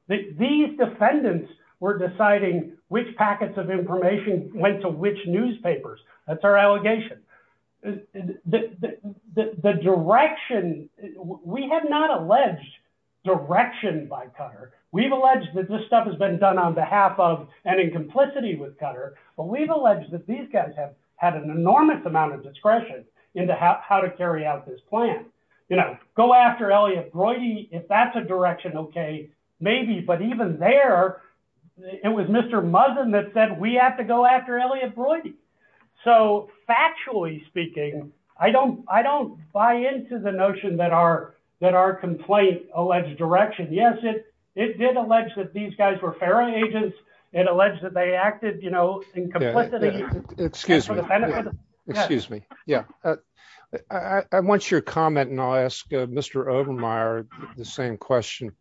These defendants were deciding which packets of information went to which newspapers. That's our allegation. The, the, the, the direction we have not alleged direction by Cutter. We've alleged that this stuff has been done on behalf of, and in complicity with Cutter, but we've alleged that these guys have had an enormous amount of discretion into how to carry out this plan. You know, go after Elliot Broidy, if that's a direction, okay, maybe, but even there, it was Mr. Muzzin that said we have to go after Elliot Broidy. So factually speaking, I don't, I don't buy into the notion that our, that our complaint alleged direction. Yes, it, it did allege that these guys were ferry agents. It alleged that they acted, you know, in complicity. Excuse me. Excuse me. Yeah. I want your comment and I'll ask Mr. Obermeyer the same question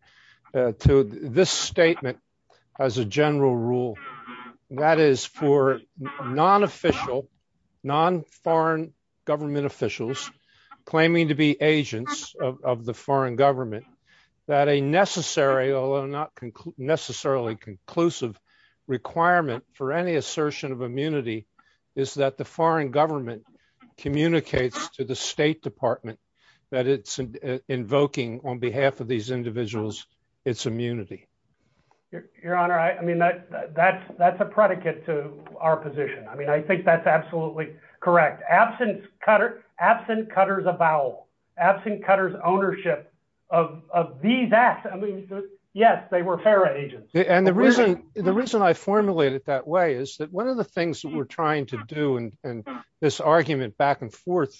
to this statement as a general rule that is for non-official, non-foreign government officials claiming to be agents of the foreign government that a necessary, although not necessarily conclusive requirement for any assertion of immunity is that the foreign government communicates to the state department that it's invoking on behalf of these individuals, its immunity. Your honor. I mean, that, that's, that's a predicate to our position. I mean, I think that's absolutely correct. Absent Cutter, absent Cutter's avowal, absent Cutter's ownership of, of these acts. I mean, yes, they were ferry agents. And the reason, the reason I formulated that way is that one of the things that we're trying to do, and this argument back and forth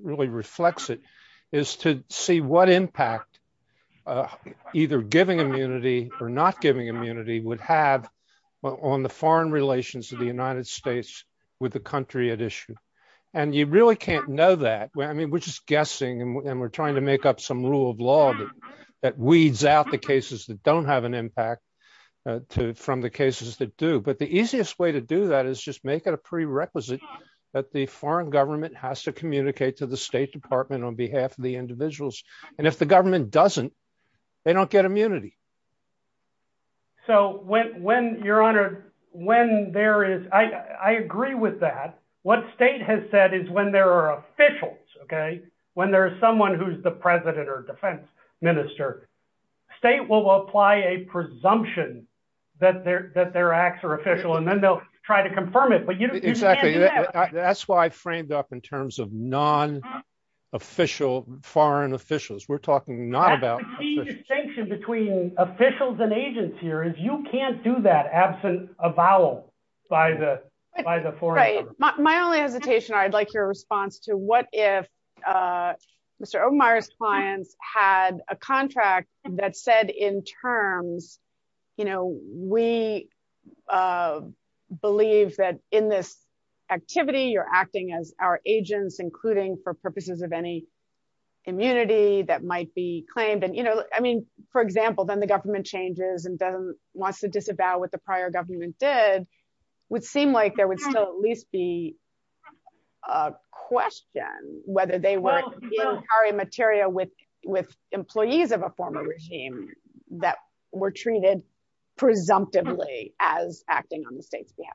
really reflects it, is to see what impact either giving immunity or not giving immunity would have on the foreign relations of the United States with the country at issue. And you really can't know that. I mean, we're just guessing and we're trying to make up some rule of law that weeds out the cases that don't have an impact from the cases that do. But the easiest way to do that is just make it a prerequisite that the foreign government has to communicate to the state department on behalf of the individuals. And if the government doesn't, they don't get immunity. So when, when, Your Honor, when there is, I, I agree with that. What state has said is when there are officials, okay, when there's someone who's the president or defense minister, state will apply a presumption that their, that their acts are official, and then they'll try to confirm it. But you can't do that. Exactly. That's why I framed up in terms of non-official foreign officials. We're talking not about... That's the key distinction between officials and agents here is you can't do that absent a vowel by the, by the foreign government. My only hesitation, I'd like your response to what if Mr. Obermeier's clients had a contract that said in terms, you know, we believe that in this activity, you're acting as our agents, including for purposes of any immunity that might be claimed. And, you know, I mean, for example, then the government changes and doesn't want to disavow what the prior government did, would seem like there would still at least be a question whether they were carrying material with, with employees of a former regime that were treated presumptively as acting on the state's behalf.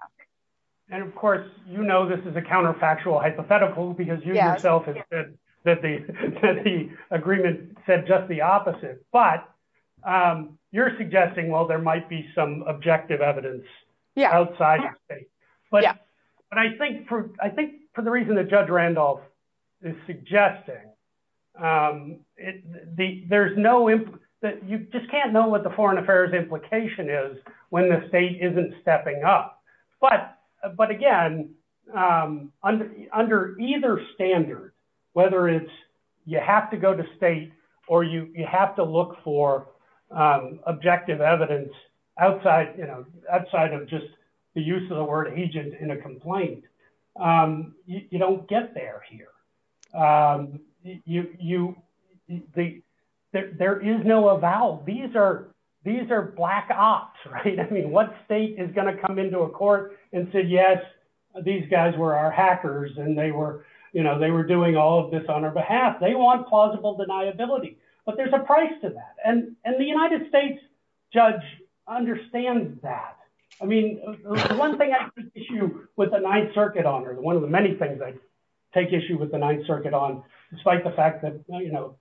And of course, you know, this is a counterfactual hypothetical, because you yourself have said that the agreement said just the opposite, but you're suggesting, well, there might be some objective evidence outside the state. But I think for, I think for the reason Judge Randolph is suggesting, there's no, you just can't know what the foreign affairs implication is when the state isn't stepping up. But, but again, under either standard, whether it's you have to go to state, or you have to look for objective evidence outside, you know, get there here. You, the, there is no avowal, these are, these are black ops, right? I mean, what state is going to come into a court and said, Yes, these guys were our hackers. And they were, you know, they were doing all of this on our behalf, they want plausible deniability. But there's a price to that. And, and the United States judge understands that. I mean, one thing issue with the Ninth Circuit honor, one of the many things I take issue with the Ninth Circuit on, despite the fact that, you know,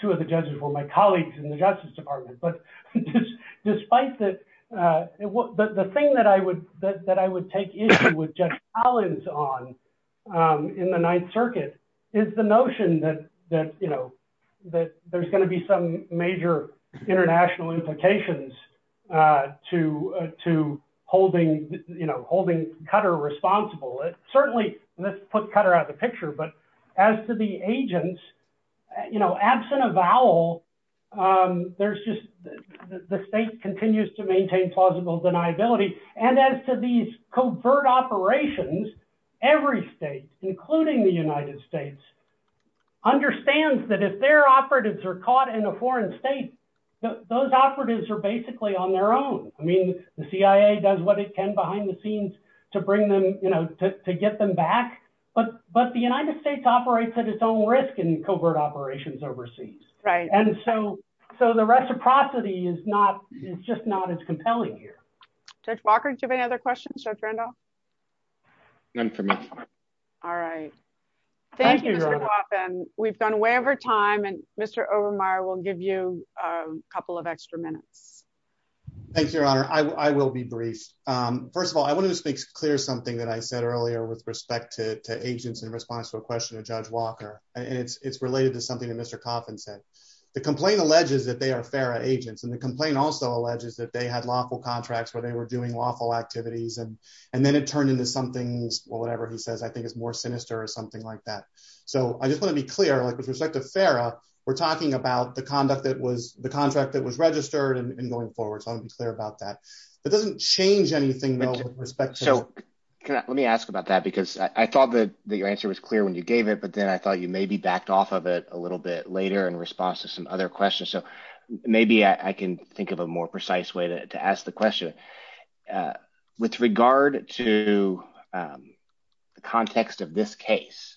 two of the judges were my colleagues in the Justice Department. But despite that, the thing that I would that I would take issue with Judge Collins on in the Ninth Circuit, is the notion that, that, you know, that there's going to be some major international implications to, to holding, you know, holding Cutter responsible. Certainly, let's put Cutter out of the picture. But as to the agents, you know, absent avowal, there's just, the state continues to maintain plausible deniability. And as to these covert operations, every state, including the United States, understands that if their operatives are caught in a foreign state, those operatives are basically on their own. I mean, the CIA does what it can behind the scenes to bring them, you know, to get them back. But, but the United States operates at its own risk in covert operations overseas. Right. And so, so the reciprocity is not, it's just not as compelling here. Judge Walker, do you have any other questions? Judge Randolph? None for me. All right. Thank you, Mr. Coffin. We've done way over time, and Mr. Overmyer will give you a couple of extra minutes. Thank you, Your Honor. I will be brief. First of all, I wanted to make clear something that I said earlier with respect to agents in response to a question of Judge Walker, and it's related to something that Mr. Coffin said. The complaint alleges that they are FARA agents, and the complaint also alleges that they had lawful contracts where they were doing lawful activities, and then it turned into something, whatever he says, I think is more sinister or something like that. So, I just want to be clear, like with respect to FARA, we're talking about the conduct that was, the contract that was registered and going forward, so I want to be clear about that. That doesn't change anything, though, with respect to- So, let me ask about that, because I thought that your answer was clear when you gave it, but then I thought you maybe backed off of it a little bit later in response to some other questions. So, maybe I can think of a more precise way to ask the question. With regard to the context of this case,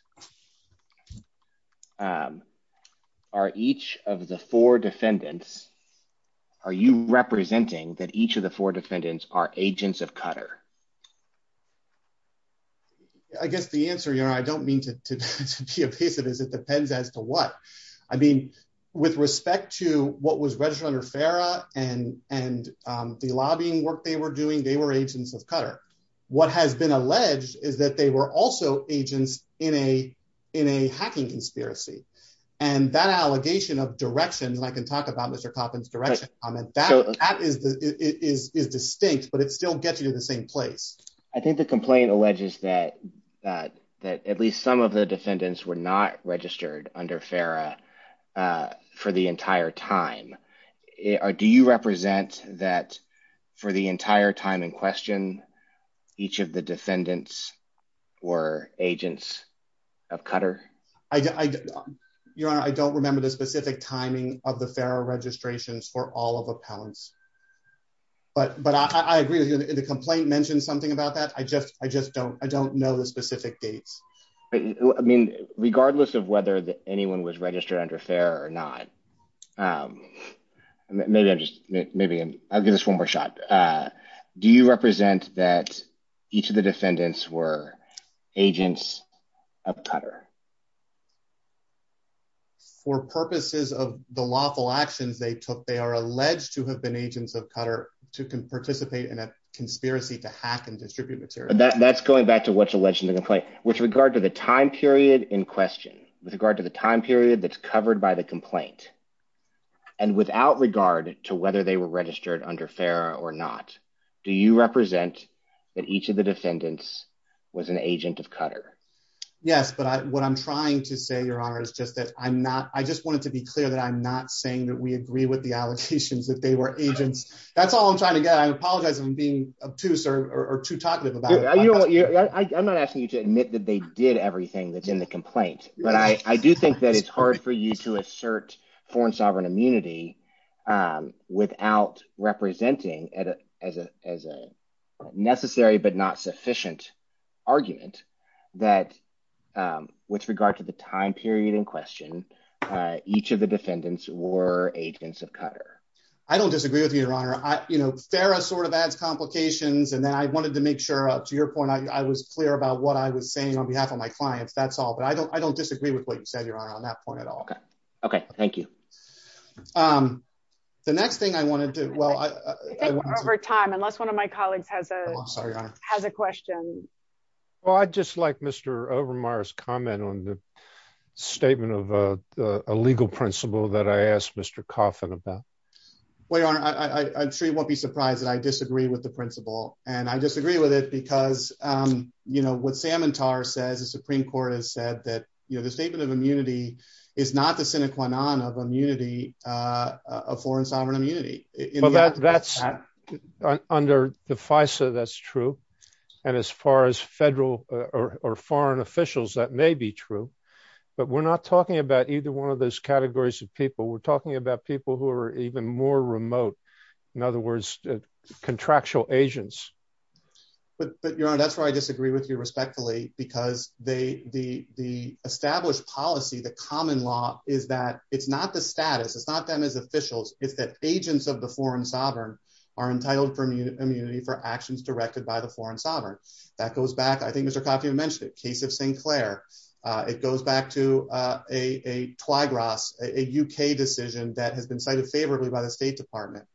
are each of the four defendants, are you representing that each of the four defendants are agents of Qatar? I guess the answer, Your Honor, I don't mean to be obvious, is it depends as to what. I mean, with respect to what was registered under FARA and the lobbying work they were doing, they were agents of Qatar. What has been alleged is that they were also agents in a hacking conspiracy, and that allegation of direction, and I can talk about Mr. Coffin's direction comment, that is distinct, but it still gets you to the same place. I think the complaint alleges that at least some of the defendants were not registered under FARA for the entire time. Do you represent that for the entire time in question, each of the defendants were agents of Qatar? Your Honor, I don't remember the specific timing of the FARA registrations for all of the powers, but I agree with you. The complaint mentioned something about that. I just I don't know the specific dates. I mean, regardless of whether anyone was registered under FARA or not, maybe I'll give this one more shot. Do you represent that each of the defendants were agents of Qatar? For purposes of the lawful actions they took, they are alleged to have been agents of Qatar to participate in a conspiracy to hack and back to what's alleged in the complaint, with regard to the time period in question, with regard to the time period that's covered by the complaint, and without regard to whether they were registered under FARA or not, do you represent that each of the defendants was an agent of Qatar? Yes, but what I'm trying to say, Your Honor, is just that I'm not, I just wanted to be clear that I'm not saying that we agree with the allegations that they were agents. That's all I'm trying to get. I apologize for being obtuse or too talkative I'm not asking you to admit that they did everything that's in the complaint, but I do think that it's hard for you to assert foreign sovereign immunity without representing it as a necessary but not sufficient argument that, with regard to the time period in question, each of the defendants were agents of Qatar. I don't disagree with you, Your Honor. FARA sort of adds complications, and then I wanted to make sure, up to your point, I was clear about what I was saying on behalf of my clients. That's all, but I don't disagree with what you said, Your Honor, on that point at all. Okay, thank you. The next thing I want to do, well... I think we're over time, unless one of my colleagues has a question. Well, I'd just like Mr. Overmyer's comment on the statement of a legal principle that I asked Mr. Coffin about. Well, Your Honor, I'm sure you won't be surprised that I disagree with the principle, and I disagree with it because, you know, what Samantar says, the Supreme Court has said that, you know, the statement of immunity is not the sine qua non of foreign sovereign immunity. Under the FISA, that's true, and as far as federal or foreign officials, that may be true, but we're not talking about either one of those categories of people. We're talking about people who are even more remote, in other words, contractual agents. But, Your Honor, that's why I disagree with you respectfully, because the established policy, the common law, is that it's not the status, it's not them as officials, it's that agents of the foreign sovereign are entitled for immunity for actions directed by the foreign sovereign. That goes back, I think Mr. Twygros, a UK decision that has been cited favorably by the State Department.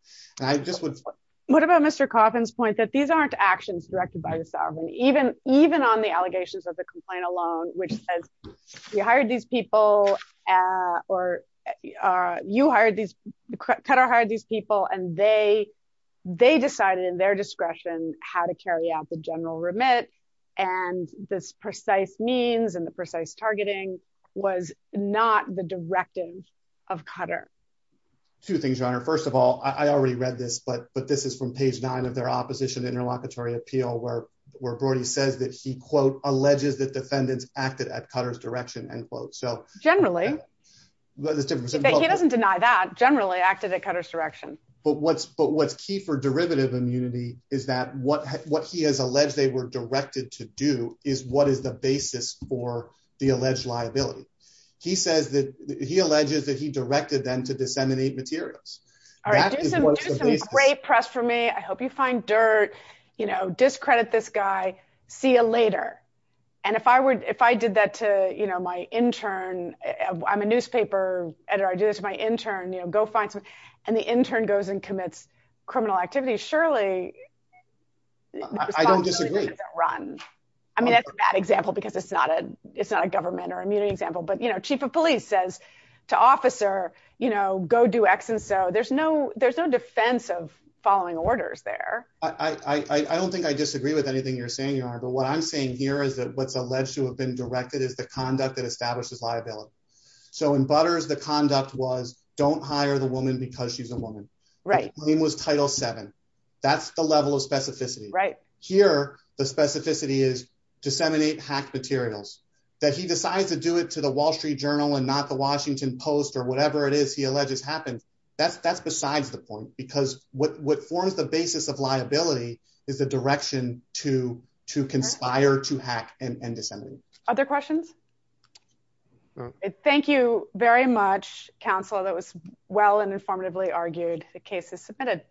What about Mr. Coffin's point that these aren't actions directed by the sovereign, even on the allegations of the complaint alone, which says you hired these people, or you hired these, Qatar hired these people, and they decided in their discretion how to carry out the general remit, and this precise means and the precise targeting was not the directive of Qatar? Two things, Your Honor. First of all, I already read this, but this is from page nine of their opposition interlocutory appeal, where Brody says that he, quote, alleges that defendants acted at Qatar's direction, end quote. Generally. He doesn't deny that, generally acted at Qatar's direction. But what's key for derivative immunity is that what he has alleged they were directed to do is what is the basis for the alleged liability. He alleges that he directed them to disseminate materials. All right, do some great press for me, I hope you find dirt, discredit this guy, see you later. And if I did that to my intern, I'm a newspaper editor, I do this to my intern, go find someone, and the intern goes and commits criminal activity, surely- I don't disagree. I mean, that's a bad example, because it's not a government or immunity example, but chief of police says to officer, go do X and so, there's no defense of following orders there. I don't think I disagree with anything you're saying, Your Honor, but what I'm saying here is that what's alleged to have been directed is the conduct that establishes liability. So in Butters, the conduct was don't hire the woman because she's a woman. Right. Name was Title VII. That's the level of specificity. Right. Here, the specificity is disseminate hacked materials, that he decides to do it to the Wall Street Journal and not the Washington Post or whatever it is he alleges happened. That's besides the point, because what forms the basis of liability is the direction to conspire to hack and disseminate. Other questions? No. Thank you very much, counsel. That was well and informatively argued. The case is submitted.